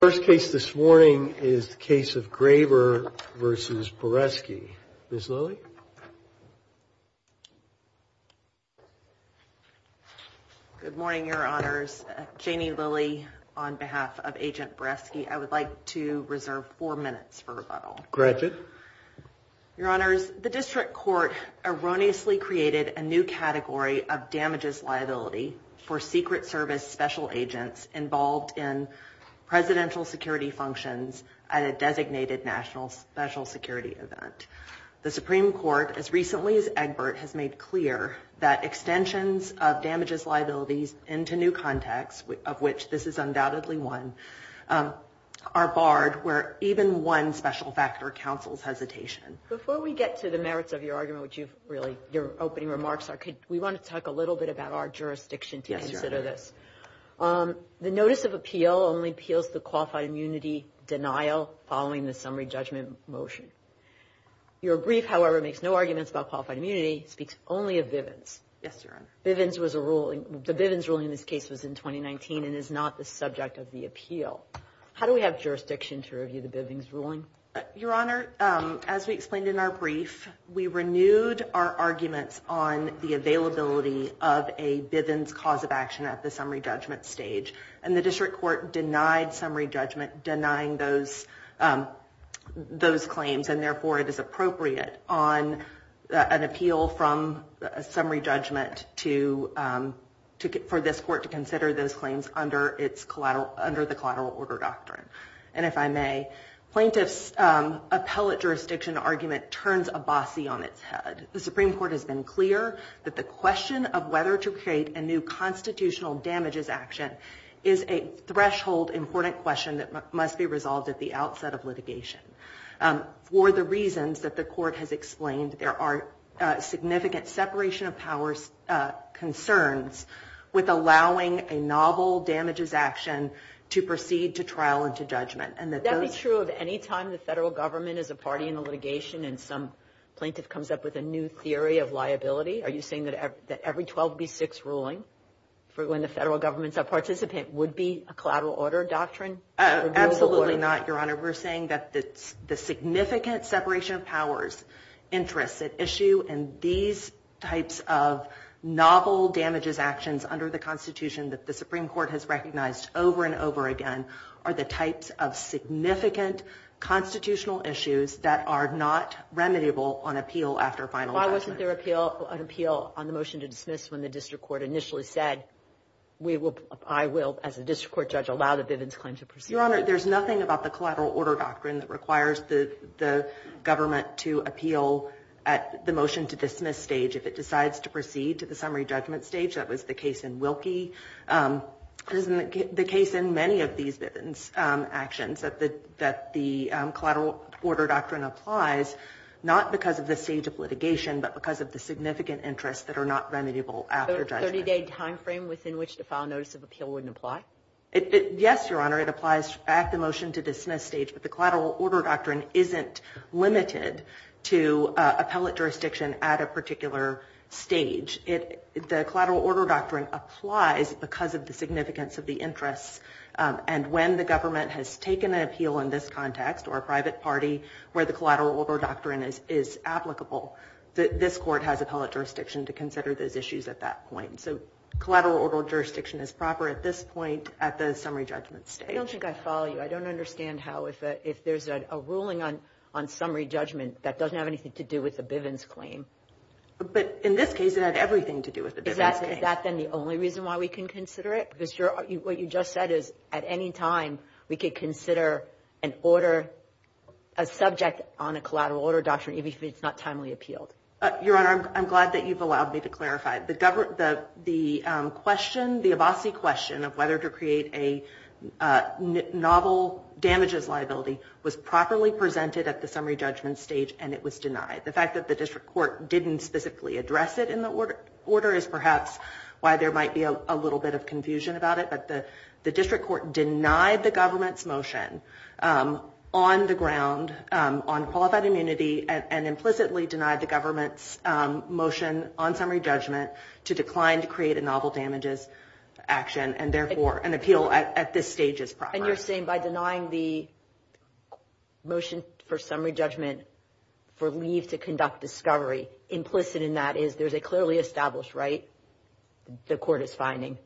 First case this morning is the case of Graber v. Boresky. Ms. Lilley? Good morning, Your Honors. Janie Lilley on behalf of Agent Boresky. I would like to reserve four minutes for rebuttal. Granted. Your Honors, the District Court erroneously created a new category of damages liability for Secret Service Special Agents involved in presidential security functions at a designated national special security event. The Supreme Court, as recently as Egbert, has made clear that extensions of damages liabilities into new contexts, of which this is undoubtedly one, are barred where even one special factor counsels hesitation. Before we get to the merits of your argument, which you've really, your opening remarks are, we want to talk a little bit about our jurisdiction to consider this. The notice of appeal only appeals to qualified immunity denial following the summary judgment motion. Your brief, however, makes no arguments about qualified immunity, speaks only of Bivens. Yes, Your Honor. Bivens was a ruling. The Bivens ruling in this case was in 2019 and is not the subject of the appeal. How do we have jurisdiction to review the Bivens ruling? Your Honor, as we explained in our brief, we renewed our arguments on the availability of a Bivens cause of action at the summary judgment stage. And the District Court denied summary judgment, denying those those claims. And therefore, it is appropriate on an appeal from a summary judgment to for this court to consider those claims under its collateral, under the collateral order doctrine. And if I may, plaintiff's appellate jurisdiction argument turns a bossy on its head. The Supreme Court has been clear that the question of whether to create a new constitutional damages action is a threshold, important question that must be resolved at the outset of litigation. For the reasons that the court has explained, there are significant separation of powers concerns with allowing a novel damages action to proceed to trial and to judgment. And that's true of any time the federal government is a party in the litigation and some plaintiff comes up with a new theory of liability. Are you saying that every 12 v. 6 ruling for when the federal government's a participant would be a collateral order doctrine? Absolutely not, Your Honor. We're saying that the significant separation of powers interests at issue and these types of novel damages actions under the Constitution that the Supreme Court has recognized over and over again are the types of significant constitutional issues that are not remediable on appeal after final judgment. Why wasn't there an appeal on the motion to dismiss when the district court initially said I will, as a district court judge, allow the Bivens claim to proceed? Your Honor, there's nothing about the collateral order doctrine that requires the government to appeal at the motion to dismiss stage. If it decides to proceed to the summary judgment stage, that was the case in Wilkie, it isn't the case in many of these Bivens actions that the collateral order doctrine applies not because of the stage of litigation but because of the significant interests that are not remediable after judgment. A 30-day time frame within which to file notice of appeal wouldn't apply? Yes, Your Honor. It applies at the motion to dismiss stage, but the collateral order doctrine isn't limited to appellate jurisdiction at a particular stage. The collateral order doctrine applies because of the significance of the interests, and when the government has taken an appeal in this context or a private party where the collateral order doctrine is applicable, this court has appellate jurisdiction to consider those issues at that point. So collateral order jurisdiction is proper at this point at the summary judgment stage. I don't think I follow you. I don't understand how if there's a ruling on summary judgment that doesn't have anything to do with the Bivens claim. But in this case, it had everything to do with the Bivens claim. Is that then the only reason why we can consider it? Because what you just said is at any time we could consider an order, a subject on a collateral order doctrine, even if it's not timely appealed. Your Honor, I'm glad that you've allowed me to clarify. The question, the Abbasi question of whether to create a novel damages liability was properly presented at the summary judgment stage, and it was denied. The fact that the district court didn't specifically address it in the order is perhaps why there might be a little bit of confusion about it. But the district court denied the government's motion on the ground on qualified immunity and implicitly denied the government's motion on summary judgment to decline, to create a novel damages action and therefore an appeal at this stage is proper. And you're saying by denying the motion for summary judgment for leave to conduct discovery implicit in that is there's a clearly established right the court is finding.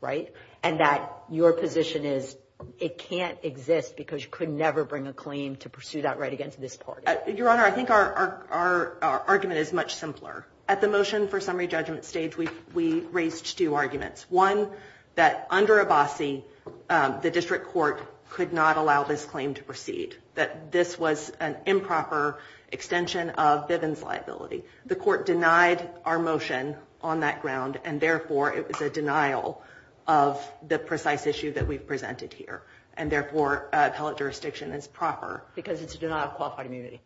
Right. And that your position is it can't exist because you could never bring a claim to pursue that right against this part. Your Honor, I think our argument is much simpler at the motion for summary judgment stage. We we raised two arguments, one that under Abbasi, the district court could not allow this claim to proceed, that this was an improper extension of Bivens liability. The court denied our motion on that ground and therefore it was a denial of the precise issue that we've presented here and therefore appellate jurisdiction is proper. Because it's a denial of qualified immunity.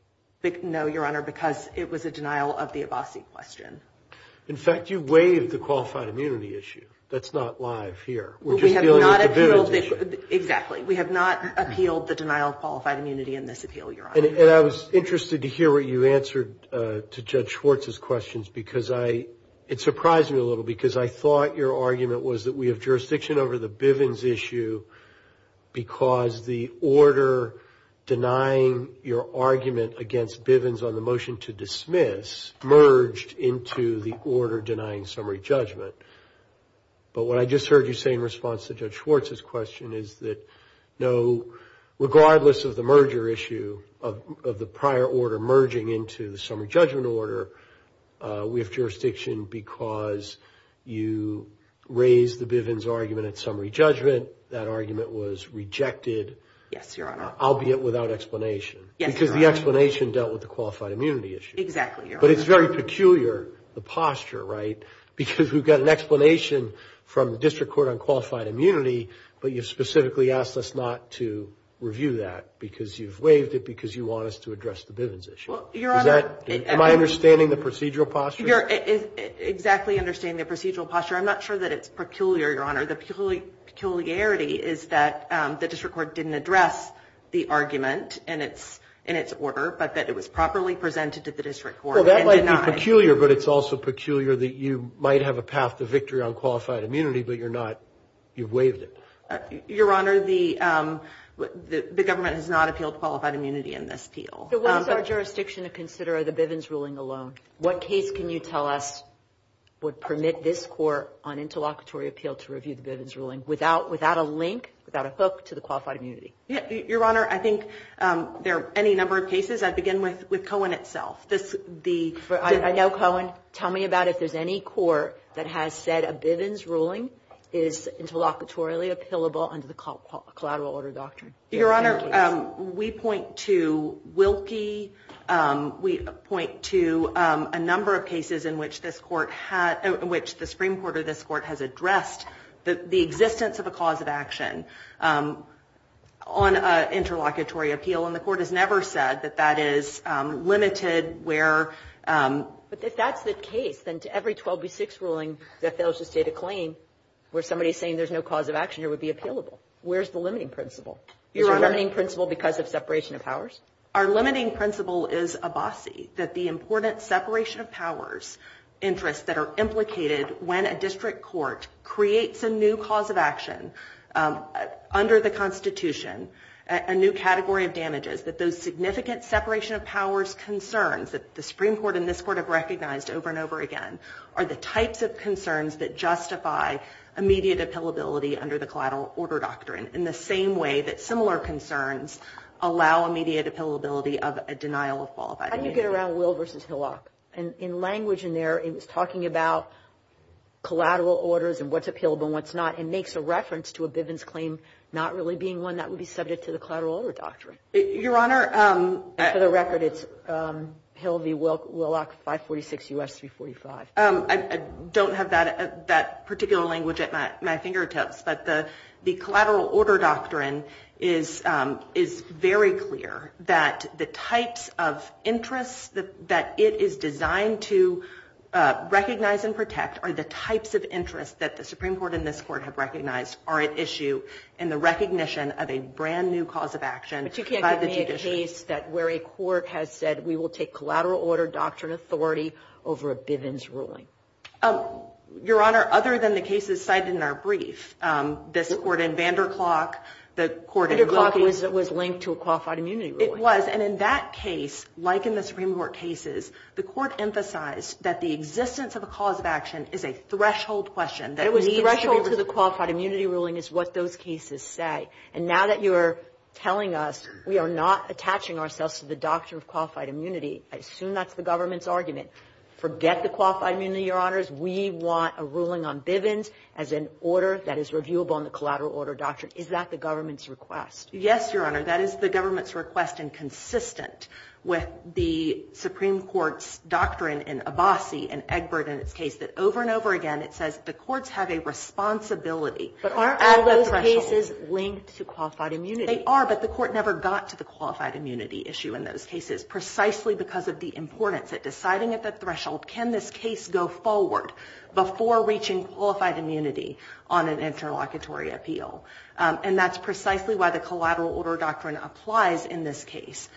No, Your Honor, because it was a denial of the Abbasi question. In fact, you waived the qualified immunity issue. That's not live here. We're just dealing with the Bivens issue. Exactly. We have not appealed the denial of qualified immunity in this appeal, Your Honor. And I was interested to hear what you answered to Judge Schwartz's questions because I it surprised me a little because I thought your argument was that we have jurisdiction over the Bivens issue. Because the order denying your argument against Bivens on the motion to dismiss merged into the order denying summary judgment. But what I just heard you say in response to Judge Schwartz's question is that no, regardless of the merger issue of the prior order merging into the summary judgment order, we have jurisdiction because you raised the Bivens argument at summary judgment. That argument was rejected. Yes, Your Honor. Albeit without explanation. Yes, Your Honor. Because the explanation dealt with the qualified immunity issue. Exactly, Your Honor. But it's very peculiar, the posture, right? Because we've got an explanation from the district court on qualified immunity, but you've specifically asked us not to review that because you've waived it because you want us to address the Bivens issue. Well, Your Honor. Am I understanding the procedural posture? You're exactly understanding the procedural posture. I'm not sure that it's peculiar, Your Honor. The peculiarity is that the district court didn't address the argument in its order, but that it was properly presented to the district court. Well, that might be peculiar, but it's also peculiar that you might have a path to victory on qualified immunity, but you're not. You've waived it. Your Honor, the government has not appealed qualified immunity in this appeal. So what is our jurisdiction to consider the Bivens ruling alone? What case can you tell us would permit this court on interlocutory appeal to review the Bivens ruling without a link, without a hook to the qualified immunity? Your Honor, I think there are any number of cases. I'd begin with Cohen itself. I know Cohen. Tell me about if there's any court that has said a Bivens ruling is interlocutorily appealable under the collateral order doctrine. Your Honor, we point to Wilkie. We point to a number of cases in which the Supreme Court or this Court has addressed the existence of a cause of action on interlocutory appeal. And the Court has never said that that is limited where... But if that's the case, then to every 12 v. 6 ruling that fails to state a claim where somebody's saying there's no cause of action here would be appealable. Where's the limiting principle? Is your limiting principle because of separation of powers? Our limiting principle is a BASI, that the important separation of powers interests that are implicated when a district court creates a new cause of action under the Constitution, a new category of damages, that those significant separation of powers concerns that the Supreme Court and this Court have recognized over and over again are the types of concerns that justify immediate appealability under the collateral order doctrine in the same way that similar concerns allow immediate appealability of a denial of qualified immunity. How do you get around Will v. Hillock? And in language in there, it was talking about collateral orders and what's appealable and what's not. It makes a reference to a Bivens claim not really being one that would be subject to the collateral order doctrine. Your Honor, for the record, it's Hill v. Willock, 546 U.S. 345. I don't have that particular language at my fingertips. But the collateral order doctrine is very clear that the types of interests that it is designed to recognize and protect are the types of interests that the Supreme Court and this Court have recognized are at issue in the recognition of a brand new cause of action by the judiciary. But you can't give me a case that where a court has said we will take collateral order doctrine authority over a Bivens ruling. Your Honor, other than the cases cited in our brief, this Court in Vanderklok, the Court in Wilkins. Vanderklok was linked to a qualified immunity ruling. It was, and in that case, like in the Supreme Court cases, the Court emphasized that the existence of a cause of action is a threshold question that leads to the qualified immunity ruling is what those cases say. And now that you're telling us we are not attaching ourselves to the doctrine of qualified immunity, I assume that's the government's argument. Forget the qualified immunity, Your Honors. We want a ruling on Bivens as an order that is reviewable in the collateral order doctrine. Is that the government's request? Yes, Your Honor. That is the government's request, and consistent with the Supreme Court's doctrine in Abbasi and Egbert and its case that over and over again it says the courts have a responsibility. But aren't all those cases linked to qualified immunity? They are. But the Court never got to the qualified immunity issue in those cases precisely because of the importance of deciding at the threshold can this case go forward before reaching qualified immunity on an interlocutory appeal. And that's precisely why the collateral order doctrine applies in this case.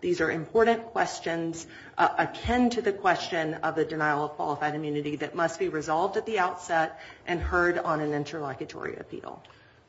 These are important questions akin to the question of the denial of qualified immunity that must be resolved at the outset and heard on an interlocutory appeal.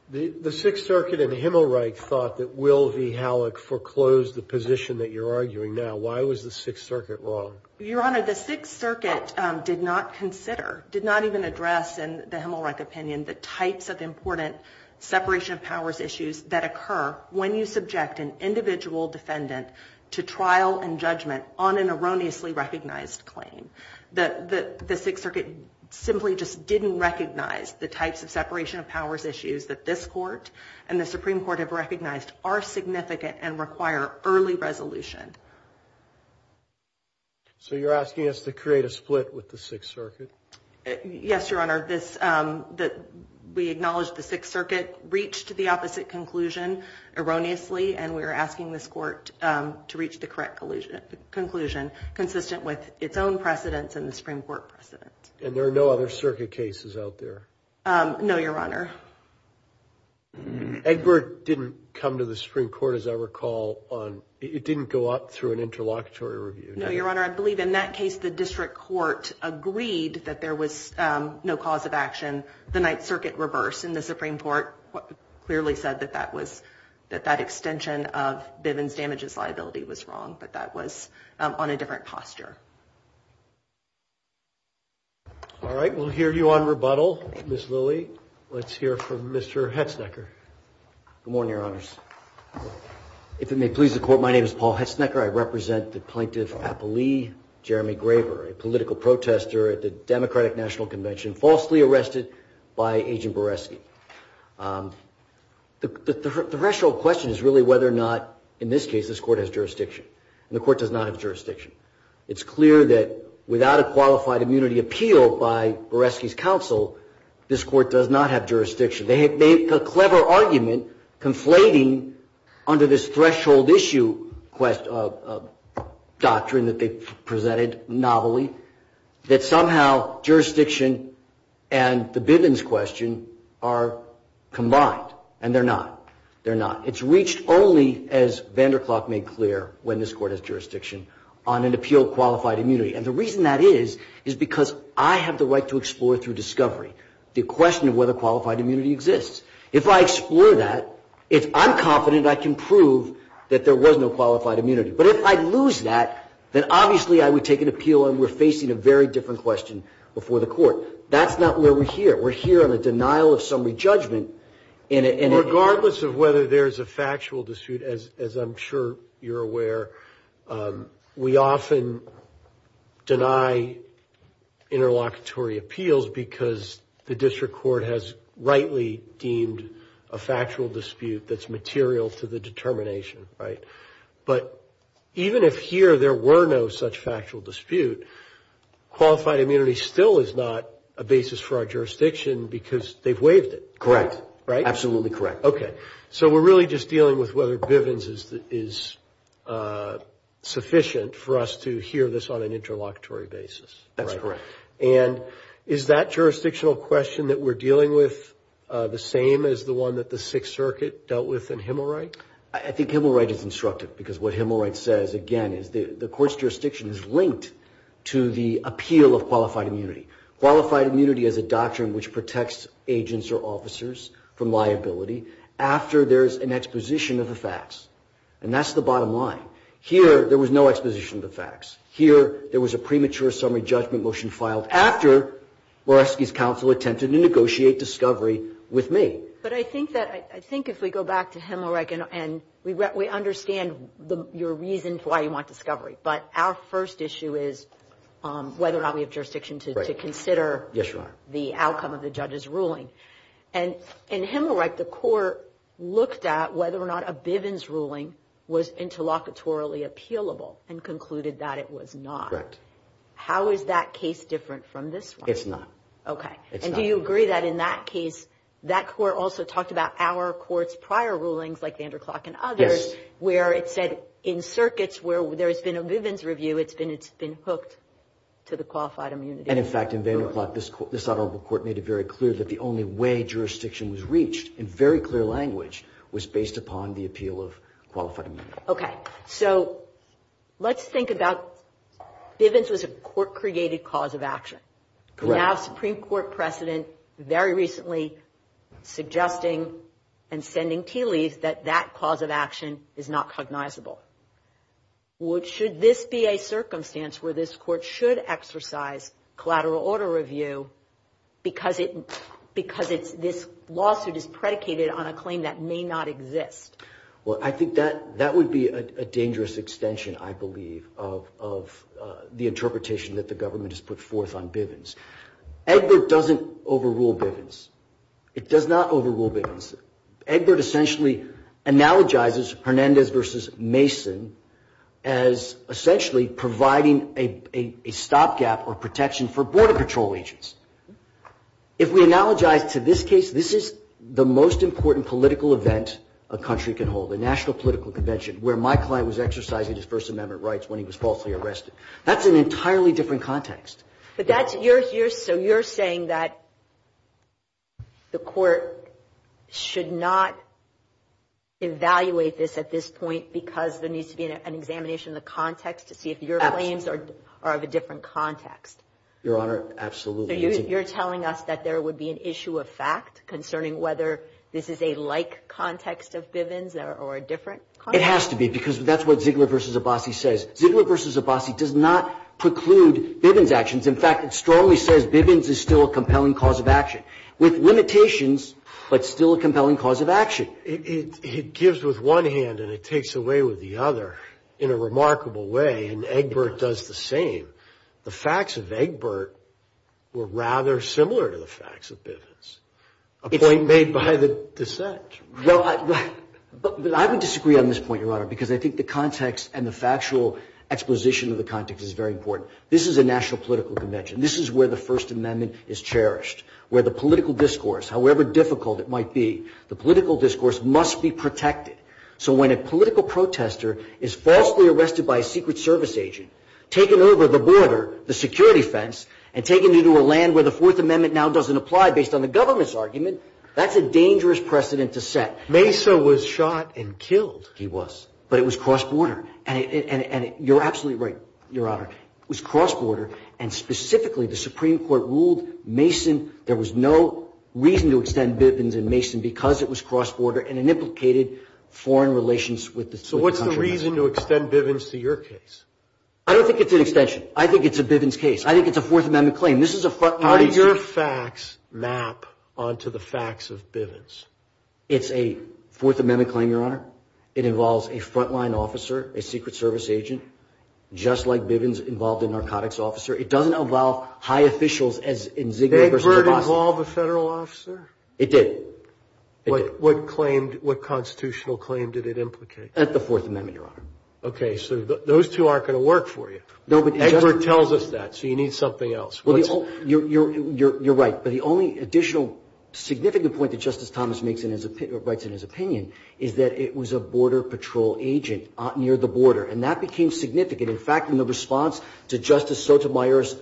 The Sixth Circuit in Himmelreich thought that Will v. Halleck foreclosed the position that you're arguing now. Why was the Sixth Circuit wrong? Your Honor, the Sixth Circuit did not consider, did not even address in the Himmelreich opinion the types of important separation of powers issues that occur when you subject an individual defendant to trial and judgment on an erroneously recognized claim. The Sixth Circuit simply just didn't recognize the types of separation of powers issues that this Court and the Supreme Court have recognized are significant and require early resolution. So you're asking us to create a split with the Sixth Circuit? Yes, Your Honor. We acknowledge the Sixth Circuit reached the opposite conclusion erroneously and we're asking this Court to reach the correct conclusion consistent with its own precedence and the Supreme Court precedent. And there are no other Circuit cases out there? No, Your Honor. Egbert didn't come to the Supreme Court, as I recall. It didn't go up through an interlocutory review. No, Your Honor. I believe in that case the District Court agreed that there was no cause of action. The Ninth Circuit reversed and the Supreme Court clearly said that that extension of Bivens damages liability was wrong, but that was on a different posture. All right, we'll hear you on rebuttal. Ms. Lilly, let's hear from Mr. Hetznecker. Good morning, Your Honors. If it may please the Court, my name is Paul Hetznecker. I represent the Plaintiff Appellee Jeremy Graber, a political protester at the Democratic National Convention, falsely arrested by Agent Boresky. The threshold question is really whether or not, in this case, this Court has jurisdiction. And the Court does not have jurisdiction. It's clear that without a qualified immunity appeal by Boresky's counsel, this Court does not have jurisdiction. They make a clever argument, conflating under this threshold issue doctrine that they presented novelly, that somehow jurisdiction and the Bivens question are combined. And they're not. They're not. It's reached only, as Vanderklok made clear when this Court has jurisdiction, on an appeal of qualified immunity. And the reason that is is because I have the right to explore through discovery the question of whether qualified immunity exists. If I explore that, I'm confident I can prove that there was no qualified immunity. But if I lose that, then obviously I would take an appeal and we're facing a very different question before the Court. That's not where we're here. We're here on a denial of summary judgment. Regardless of whether there's a factual dispute, as I'm sure you're aware, we often deny interlocutory appeals because the district court has rightly deemed a factual dispute that's material to the determination, right? But even if here there were no such factual dispute, qualified immunity still is not a basis for our jurisdiction because they've waived it. Correct. Absolutely correct. Okay. So we're really just dealing with whether Bivens is sufficient for us to hear this on an interlocutory basis. That's correct. And is that jurisdictional question that we're dealing with the same as the one that the Sixth Circuit dealt with in Himmelright? I think Himmelright is instructive because what Himmelright says, again, is the court's jurisdiction is linked to the appeal of qualified immunity. Qualified immunity is a doctrine which protects agents or officers from liability after there's an exposition of the facts. And that's the bottom line. Here, there was no exposition of the facts. Here, there was a premature summary judgment motion filed after Moresky's counsel attempted to negotiate discovery with me. But I think that, I think if we go back to Himmelright, and we understand your reason for why you want discovery, but our first issue is whether or not we have jurisdiction to consider the outcome of the judge's ruling. And in Himmelright, the court looked at whether or not a Bivens ruling was interlocutorily appealable and concluded that it was not. Correct. How is that case different from this one? It's not. Okay. It's not. And do you agree that in that case, that court also talked about our court's prior rulings, like Vanderklok and others, where it said in circuits where there's been a Bivens review, it's been hooked to the qualified immunity. And, in fact, in Vanderklok, this honorable court made it very clear that the only way jurisdiction was reached, in very clear language, was based upon the appeal of qualified immunity. Okay. So let's think about Bivens was a court-created cause of action. Correct. Now a Supreme Court precedent very recently suggesting and sending tea leaves that that cause of action is not cognizable. Should this be a circumstance where this court should exercise collateral order review because this lawsuit is predicated on a claim that may not exist? Well, I think that would be a dangerous extension, I believe, of the interpretation that the government has put forth on Bivens. Egbert doesn't overrule Bivens. It does not overrule Bivens. Egbert essentially analogizes Hernandez v. Mason as essentially providing a stopgap or protection for Border Patrol agents. If we analogize to this case, this is the most important political event a country can hold, a national political convention, where my client was exercising his First Amendment rights when he was falsely arrested. That's an entirely different context. So you're saying that the court should not evaluate this at this point because there needs to be an examination of the context to see if your claims are of a different context? Your Honor, absolutely. So you're telling us that there would be an issue of fact concerning whether this is a like context of Bivens or a different context? It has to be because that's what Ziegler v. Abbasi says. Ziegler v. Abbasi does not preclude Bivens' actions. In fact, it strongly says Bivens is still a compelling cause of action, with limitations, but still a compelling cause of action. It gives with one hand and it takes away with the other in a remarkable way, and Egbert does the same. The facts of Egbert were rather similar to the facts of Bivens, a point made by the dissent. But I would disagree on this point, Your Honor, because I think the context and the factual exposition of the context is very important. This is a national political convention. This is where the First Amendment is cherished, where the political discourse, however difficult it might be, the political discourse must be protected. So when a political protester is falsely arrested by a Secret Service agent, taken over the border, the security fence, and taken into a land where the Fourth Amendment now doesn't apply based on the government's argument, that's a dangerous precedent to set. Mesa was shot and killed. He was. But it was cross-border. And you're absolutely right, Your Honor. It was cross-border, and specifically the Supreme Court ruled Mason, there was no reason to extend Bivens in Mason because it was cross-border and it implicated foreign relations with the country. So what's the reason to extend Bivens to your case? I don't think it's an extension. I think it's a Bivens case. I think it's a Fourth Amendment claim. How do your facts map onto the facts of Bivens? It's a Fourth Amendment claim, Your Honor. It involves a front-line officer, a Secret Service agent, just like Bivens involved a narcotics officer. It doesn't involve high officials as in Ziggler versus DeBassett. Did Egbert involve a federal officer? It did. What constitutional claim did it implicate? At the Fourth Amendment, Your Honor. Okay, so those two aren't going to work for you. Egbert tells us that, so you need something else. You're right, but the only additional significant point that Justice Thomas writes in his opinion is that it was a Border Patrol agent near the border, and that became significant. In fact, in the response to Justice Sotomayor's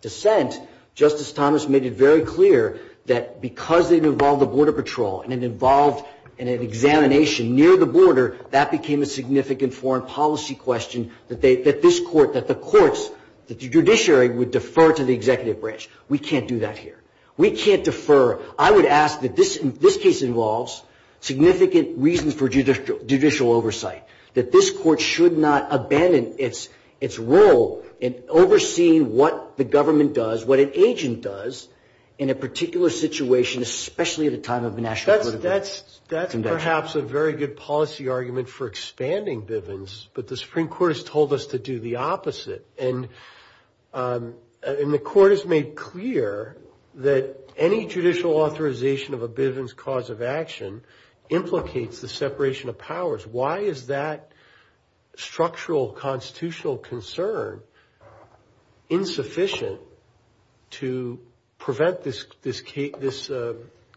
dissent, Justice Thomas made it very clear that because it involved the Border Patrol and it involved an examination near the border, that became a significant foreign policy question that this Court, that the courts, that the judiciary would defer to the executive branch. We can't do that here. We can't defer. I would ask that this case involves significant reasons for judicial oversight, that this Court should not abandon its role in overseeing what the government does, what an agent does in a particular situation, especially at a time of a national political convention. That's perhaps a very good policy argument for expanding Bivens, but the Supreme Court has told us to do the opposite, and the Court has made clear that any judicial authorization of a Bivens cause of action implicates the separation of powers. Why is that structural constitutional concern insufficient to prevent this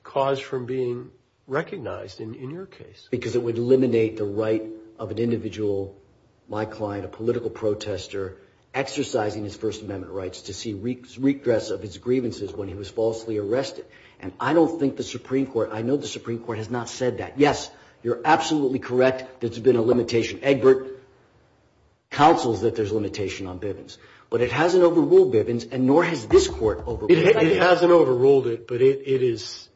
cause from being recognized in your case? Because it would eliminate the right of an individual, my client, a political protester, exercising his First Amendment rights to see redress of his grievances when he was falsely arrested, and I don't think the Supreme Court, I know the Supreme Court has not said that. Yes, you're absolutely correct, there's been a limitation. Egbert counsels that there's limitation on Bivens, but it hasn't overruled Bivens, and nor has this Court overruled it. It hasn't overruled it, but it is,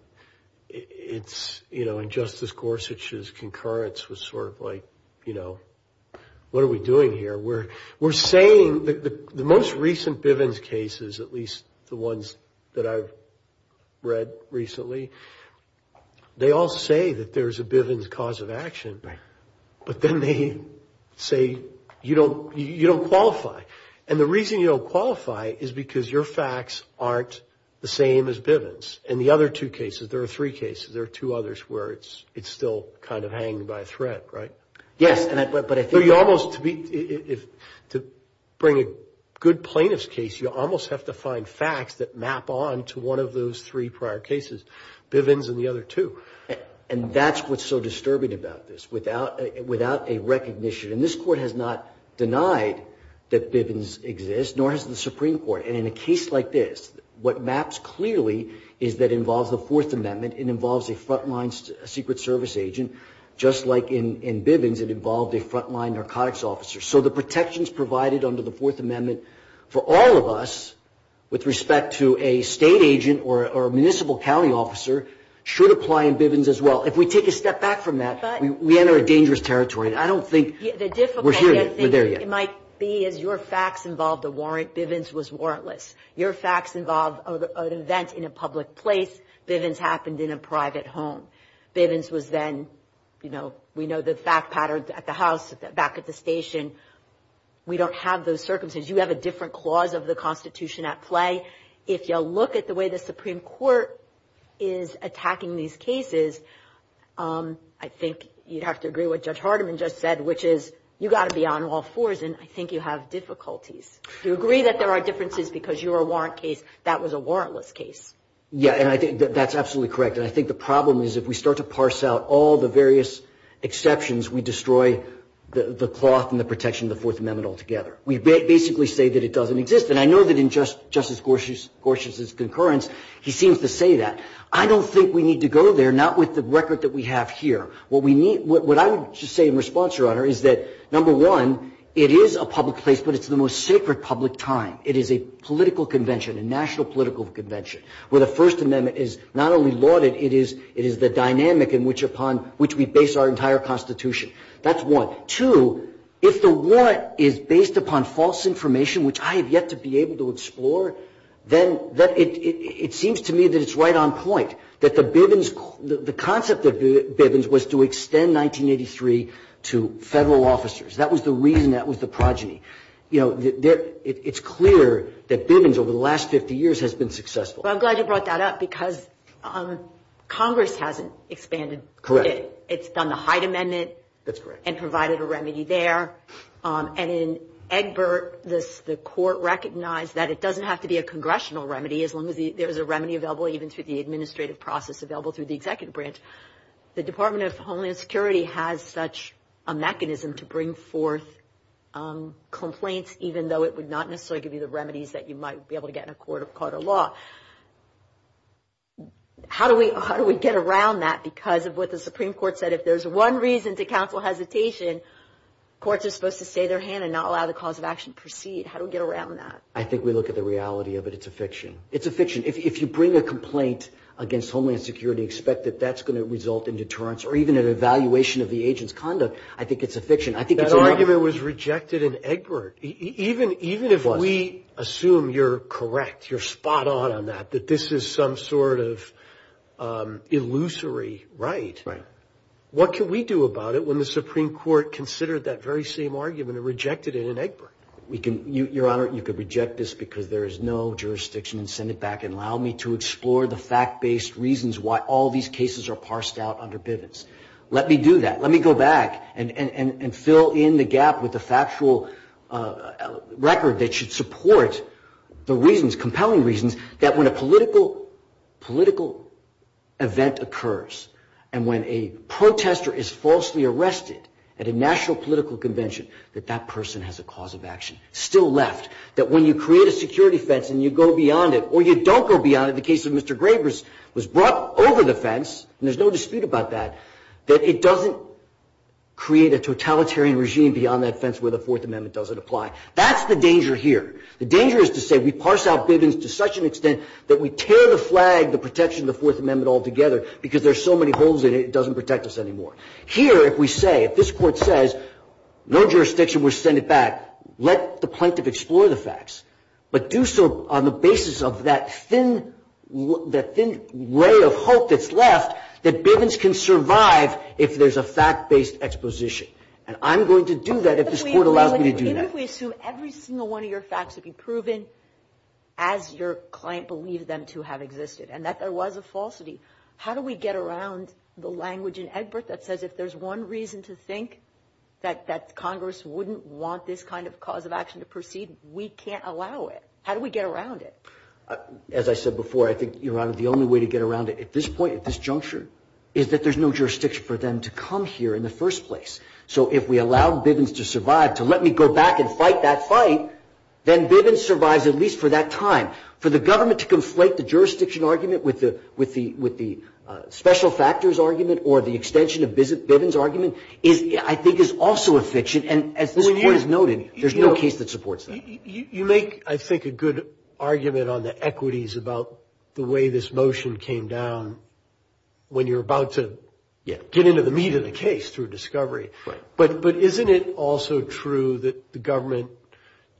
you know, and Justice Gorsuch's concurrence was sort of like, you know, what are we doing here? We're saying that the most recent Bivens cases, at least the ones that I've read recently, they all say that there's a Bivens cause of action, but then they say you don't qualify, and the reason you don't qualify is because your facts aren't the same as Bivens. In the other two cases, there are three cases, there are two others where it's still kind of hanging by a thread, right? Yes, but I think that... So you almost, to bring a good plaintiff's case, you almost have to find facts that map on to one of those three prior cases, Bivens and the other two. And that's what's so disturbing about this, without a recognition, and this Court has not denied that Bivens exists, nor has the Supreme Court. And in a case like this, what maps clearly is that it involves the Fourth Amendment, it involves a front-line Secret Service agent, just like in Bivens it involved a front-line narcotics officer. So the protections provided under the Fourth Amendment for all of us, with respect to a state agent or a municipal county officer, should apply in Bivens as well. If we take a step back from that, we enter a dangerous territory. I don't think we're there yet. The difficulty I think it might be is your facts involved a warrant, Bivens was warrantless. Your facts involved an event in a public place, Bivens happened in a private home. Bivens was then, you know, we know the fact pattern at the house, back at the station. We don't have those circumstances. You have a different clause of the Constitution at play. If you look at the way the Supreme Court is attacking these cases, I think you'd have to agree with what Judge Hardiman just said, which is you've got to be on all fours, and I think you have difficulties. You agree that there are differences because you're a warrant case, that was a warrantless case. Yeah, and I think that's absolutely correct. And I think the problem is if we start to parse out all the various exceptions, we destroy the cloth and the protection of the Fourth Amendment altogether. We basically say that it doesn't exist. And I know that in Justice Gorsuch's concurrence, he seems to say that. I don't think we need to go there, not with the record that we have here. What I would just say in response, Your Honor, is that, number one, it is a public place, but it's the most sacred public time. It is a political convention, a national political convention, where the First Amendment is not only lauded, it is the dynamic upon which we base our entire Constitution. That's one. Two, if the warrant is based upon false information, which I have yet to be able to explore, then it seems to me that it's right on point, that the Bivens, the concept of Bivens was to extend 1983 to Federal officers. That was the reason that was the progeny. You know, it's clear that Bivens over the last 50 years has been successful. Well, I'm glad you brought that up because Congress hasn't expanded. Correct. It's done the Hyde Amendment. That's correct. And provided a remedy there. And in Egbert, the court recognized that it doesn't have to be a congressional remedy, as long as there's a remedy available even through the administrative process available through the executive branch. The Department of Homeland Security has such a mechanism to bring forth complaints, even though it would not necessarily give you the remedies that you might be able to get in a court of law. How do we get around that because of what the Supreme Court said? If there's one reason to counsel hesitation, courts are supposed to stay their hand and not allow the cause of action to proceed. How do we get around that? I think we look at the reality of it. It's a fiction. It's a fiction. If you bring a complaint against Homeland Security, expect that that's going to result in deterrence or even an evaluation of the agent's conduct, I think it's a fiction. That argument was rejected in Egbert. Even if we assume you're correct, you're spot on on that, that this is some sort of illusory right. Right. What can we do about it when the Supreme Court considered that very same argument and rejected it in Egbert? We can, Your Honor, you could reject this because there is no jurisdiction, and send it back and allow me to explore the fact-based reasons why all these cases are parsed out under Bivens. Let me do that. Let me go back and fill in the gap with the factual record that should support the reasons, compelling reasons, that when a political event occurs and when a protester is falsely arrested at a national political convention, that that person has a cause of action still left. That when you create a security fence and you go beyond it, or you don't go beyond it, the case of Mr. Grabers was brought over the fence, and there's no dispute about that, that it doesn't create a totalitarian regime beyond that fence where the Fourth Amendment doesn't apply. That's the danger here. The danger is to say we parse out Bivens to such an extent that we tear the flag, the protection of the Fourth Amendment altogether because there are so many holes in it, it doesn't protect us anymore. Here, if we say, if this Court says, no jurisdiction, we'll send it back, let the plaintiff explore the facts, but do so on the basis of that thin ray of hope that's left that Bivens can survive if there's a fact-based exposition. And I'm going to do that if this Court allows me to do that. Even if we assume every single one of your facts would be proven as your client believed them to have existed and that there was a falsity, how do we get around the language in Egbert that says if there's one reason to think that Congress wouldn't want this kind of cause of action to proceed, we can't allow it. How do we get around it? As I said before, I think, Your Honor, the only way to get around it at this point, at this juncture, is that there's no jurisdiction for them to come here in the first place. So if we allow Bivens to survive, to let me go back and fight that fight, then Bivens survives at least for that time. For the government to conflate the jurisdiction argument with the special factors argument or the extension of Bivens' argument is, I think, is also a fiction. And as this Court has noted, there's no case that supports that. You make, I think, a good argument on the equities about the way this motion came down when you're about to get into the meat of the case through discovery. But isn't it also true that the government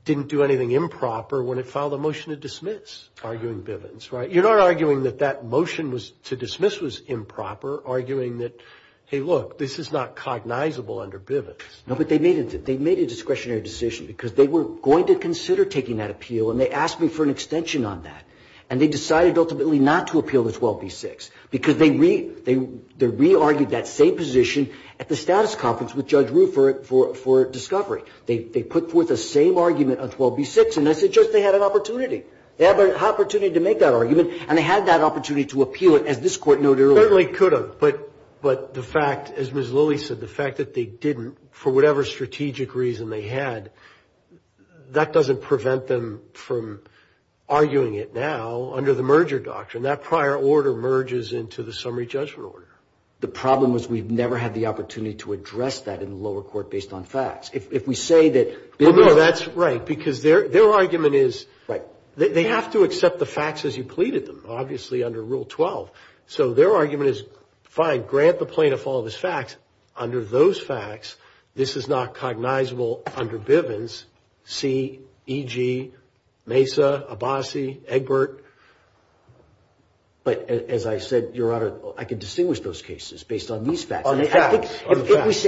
didn't do anything improper when it filed a motion to dismiss, arguing Bivens? You're not arguing that that motion to dismiss was improper, arguing that, hey, look, this is not cognizable under Bivens. No, but they made a discretionary decision because they were going to consider taking that appeal and they asked me for an extension on that. And they decided ultimately not to appeal the 12B6 because they re-argued that same position at the status conference with Judge Rue for discovery. They put forth the same argument on 12B6, and I said, Judge, they had an opportunity. They had an opportunity to make that argument, and they had that opportunity to appeal it, as this Court noted earlier. They certainly could have, but the fact, as Ms. Lilly said, the fact that they didn't, for whatever strategic reason they had, that doesn't prevent them from arguing it now under the merger doctrine. That prior order merges into the summary judgment order. The problem is we've never had the opportunity to address that in the lower court based on facts. If we say that Bivens – No, that's right, because their argument is – Right. They have to accept the facts as you pleaded them, obviously under Rule 12. So their argument is, fine, grant the plaintiff all of his facts. Under those facts, this is not cognizable under Bivens, C, E.G., Mesa, Abbasi, Egbert. But, as I said, Your Honor, I can distinguish those cases based on these facts. On the facts.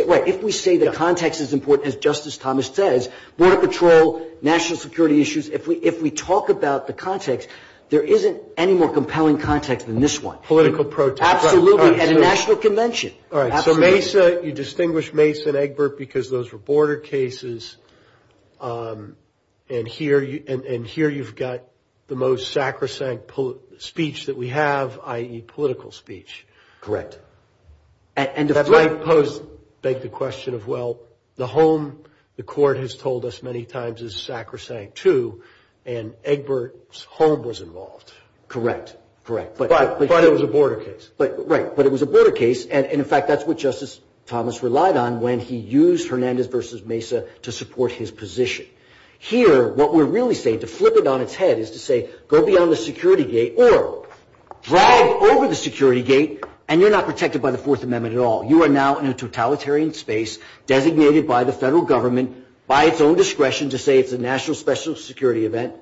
Right. If we say the context is important, as Justice Thomas says, border patrol, national security issues, if we talk about the context, there isn't any more compelling context than this one. Political protest. Absolutely. At a national convention. All right. So Mesa, you distinguish Mesa and Egbert because those were border cases, and here you've got the most sacrosanct speech that we have, i.e. political speech. Correct. And if I pose – That might beg the question of, well, the home the court has told us many times is sacrosanct, too, and Egbert's home was involved. Correct. Correct. But it was a border case. Right. But it was a border case, and, in fact, that's what Justice Thomas relied on when he used Hernandez v. Mesa to support his position. Here, what we're really saying, to flip it on its head, is to say, go beyond the security gate or drive over the security gate and you're not protected by the Fourth Amendment at all. You are now in a totalitarian space designated by the federal government, by its own discretion, to say it's a national special security event,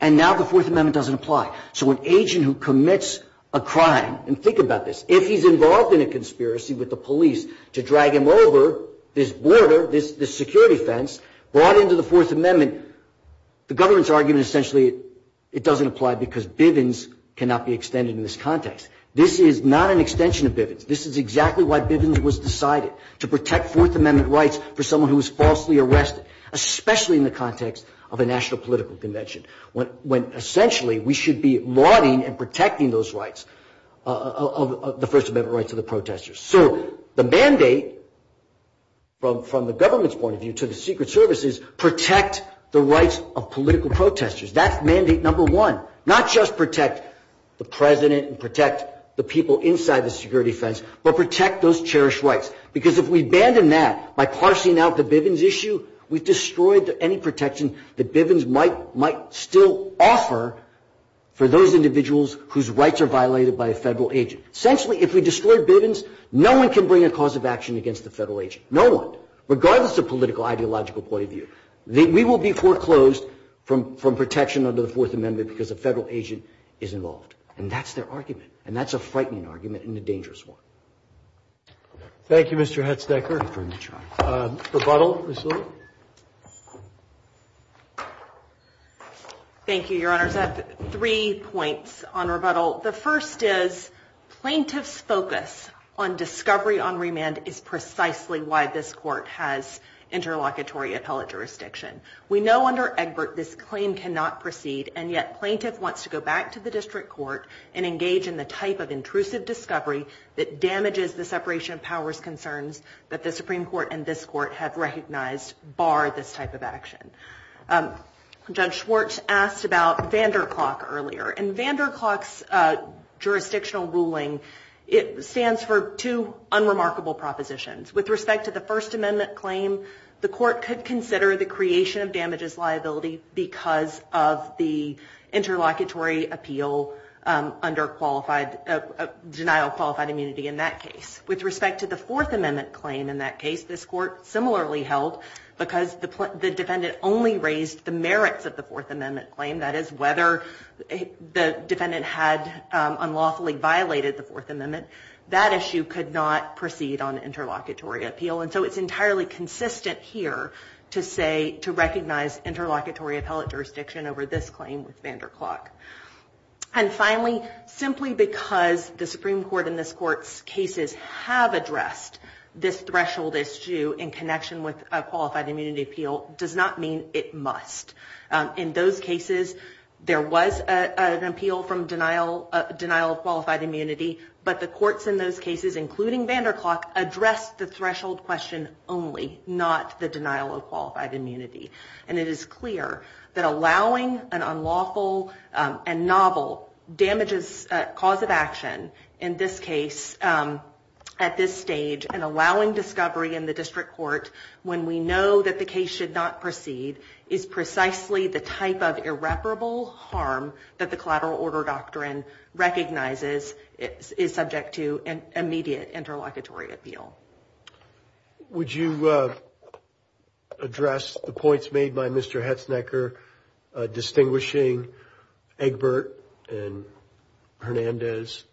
and now the Fourth Amendment doesn't apply. So an agent who commits a crime, and think about this, if he's involved in a conspiracy with the police to drag him over this border, this security fence, brought into the Fourth Amendment, the government's argument is essentially it doesn't apply because Bivens cannot be extended in this context. This is not an extension of Bivens. This is exactly why Bivens was decided, to protect Fourth Amendment rights for someone who was falsely arrested, especially in the context of a national political convention, when essentially we should be lauding and protecting those rights, the First Amendment rights of the protesters. So the mandate, from the government's point of view, to the Secret Service, is protect the rights of political protesters. That's mandate number one. Not just protect the president and protect the people inside the security fence, but protect those cherished rights. Because if we abandon that by parsing out the Bivens issue, we've destroyed any protection that Bivens might still offer for those individuals whose rights are violated by a Federal agent. Essentially, if we destroy Bivens, no one can bring a cause of action against a Federal agent, no one, regardless of political ideological point of view. We will be foreclosed from protection under the Fourth Amendment because a Federal agent is involved. And that's their argument. And that's a frightening argument and a dangerous one. Thank you, Mr. Hetznecker. Rebuttal, Ms. Lewis. Thank you, Your Honors. I have three points on rebuttal. The first is plaintiff's focus on discovery on remand is precisely why this Court has interlocutory appellate jurisdiction. We know under Egbert this claim cannot proceed, and yet plaintiff wants to go back to the district court and engage in the type of intrusive discovery that damages the separation of powers concerns that the Supreme Court and this Court have recognized bar this type of action. Judge Schwartz asked about Vanderklok earlier. And Vanderklok's jurisdictional ruling, it stands for two unremarkable propositions. With respect to the First Amendment claim, the Court could consider the creation of damages liability because of the interlocutory appeal under denial of qualified immunity in that case. With respect to the Fourth Amendment claim in that case, this Court similarly held because the defendant only raised the merits of the Fourth Amendment claim, that is, whether the defendant had unlawfully violated the Fourth Amendment, that issue could not proceed on interlocutory appeal. And so it's entirely consistent here to recognize interlocutory appellate jurisdiction over this claim with Vanderklok. And finally, simply because the Supreme Court and this Court's cases have addressed this threshold issue in connection with a qualified immunity appeal does not mean it must. In those cases, there was an appeal from denial of qualified immunity, but the courts in those cases, including Vanderklok, addressed the threshold question only, not the denial of qualified immunity. And it is clear that allowing an unlawful and novel damages cause of action in this case at this stage and allowing discovery in the district court when we know that the case should not proceed is precisely the type of irreparable harm that the collateral order doctrine recognizes is subject to an immediate interlocutory appeal. Would you address the points made by Mr. Hetznecker distinguishing Egbert and Hernandez?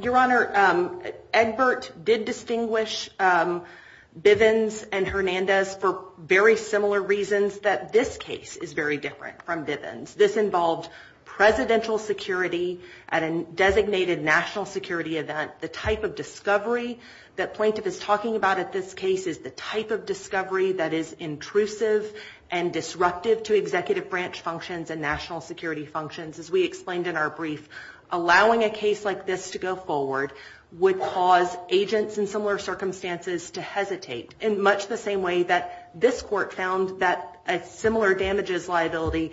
Your Honor, Egbert did distinguish Bivens and Hernandez for very similar reasons that this case is very different from Bivens. This involved presidential security at a designated national security event. The type of discovery that plaintiff is talking about at this case is the type of discovery that is intrusive and disruptive to executive branch functions and national security functions, as we explained in our brief. Allowing a case like this to go forward would cause agents in similar circumstances to hesitate in much the same way that this Court found that a similar damages liability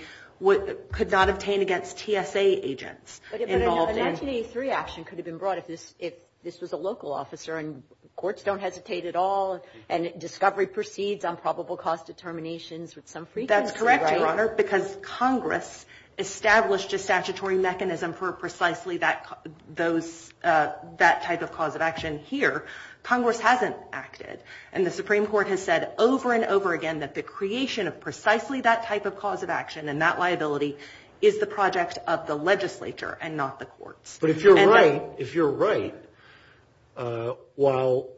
could not obtain against TSA agents. But an 1883 action could have been brought if this was a local officer and courts don't hesitate at all and discovery proceeds on probable cause determinations with some frequency, right? That's correct, Your Honor, because Congress established a statutory mechanism for precisely that type of cause of action here. Congress hasn't acted, and the Supreme Court has said over and over again that the creation of precisely that type of cause of action and that liability is the project of the legislature and not the courts. But if you're right, if you're right, while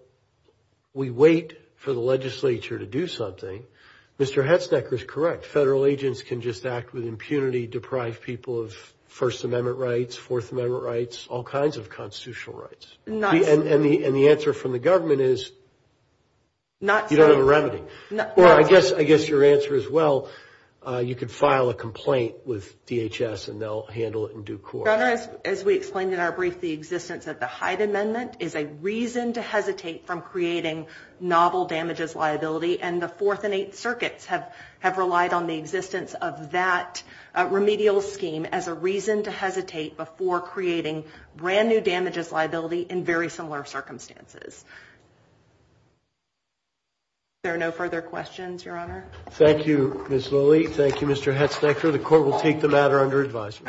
we wait for the legislature to do something, Mr. Hetznecker is correct. Federal agents can just act with impunity, deprive people of First Amendment rights, Fourth Amendment rights, all kinds of constitutional rights. And the answer from the government is you don't have a remedy. Well, I guess your answer is, well, you could file a complaint with DHS and they'll handle it in due course. Your Honor, as we explained in our brief, the existence of the Hyde Amendment is a reason to hesitate from creating novel damages liability, and the Fourth and Eighth Circuits have relied on the existence of that remedial scheme as a reason to hesitate before creating brand-new damages liability in very similar circumstances. If there are no further questions, Your Honor. Thank you, Ms. Lilly. Thank you, Mr. Hetznecker. The court will take the matter under advisory.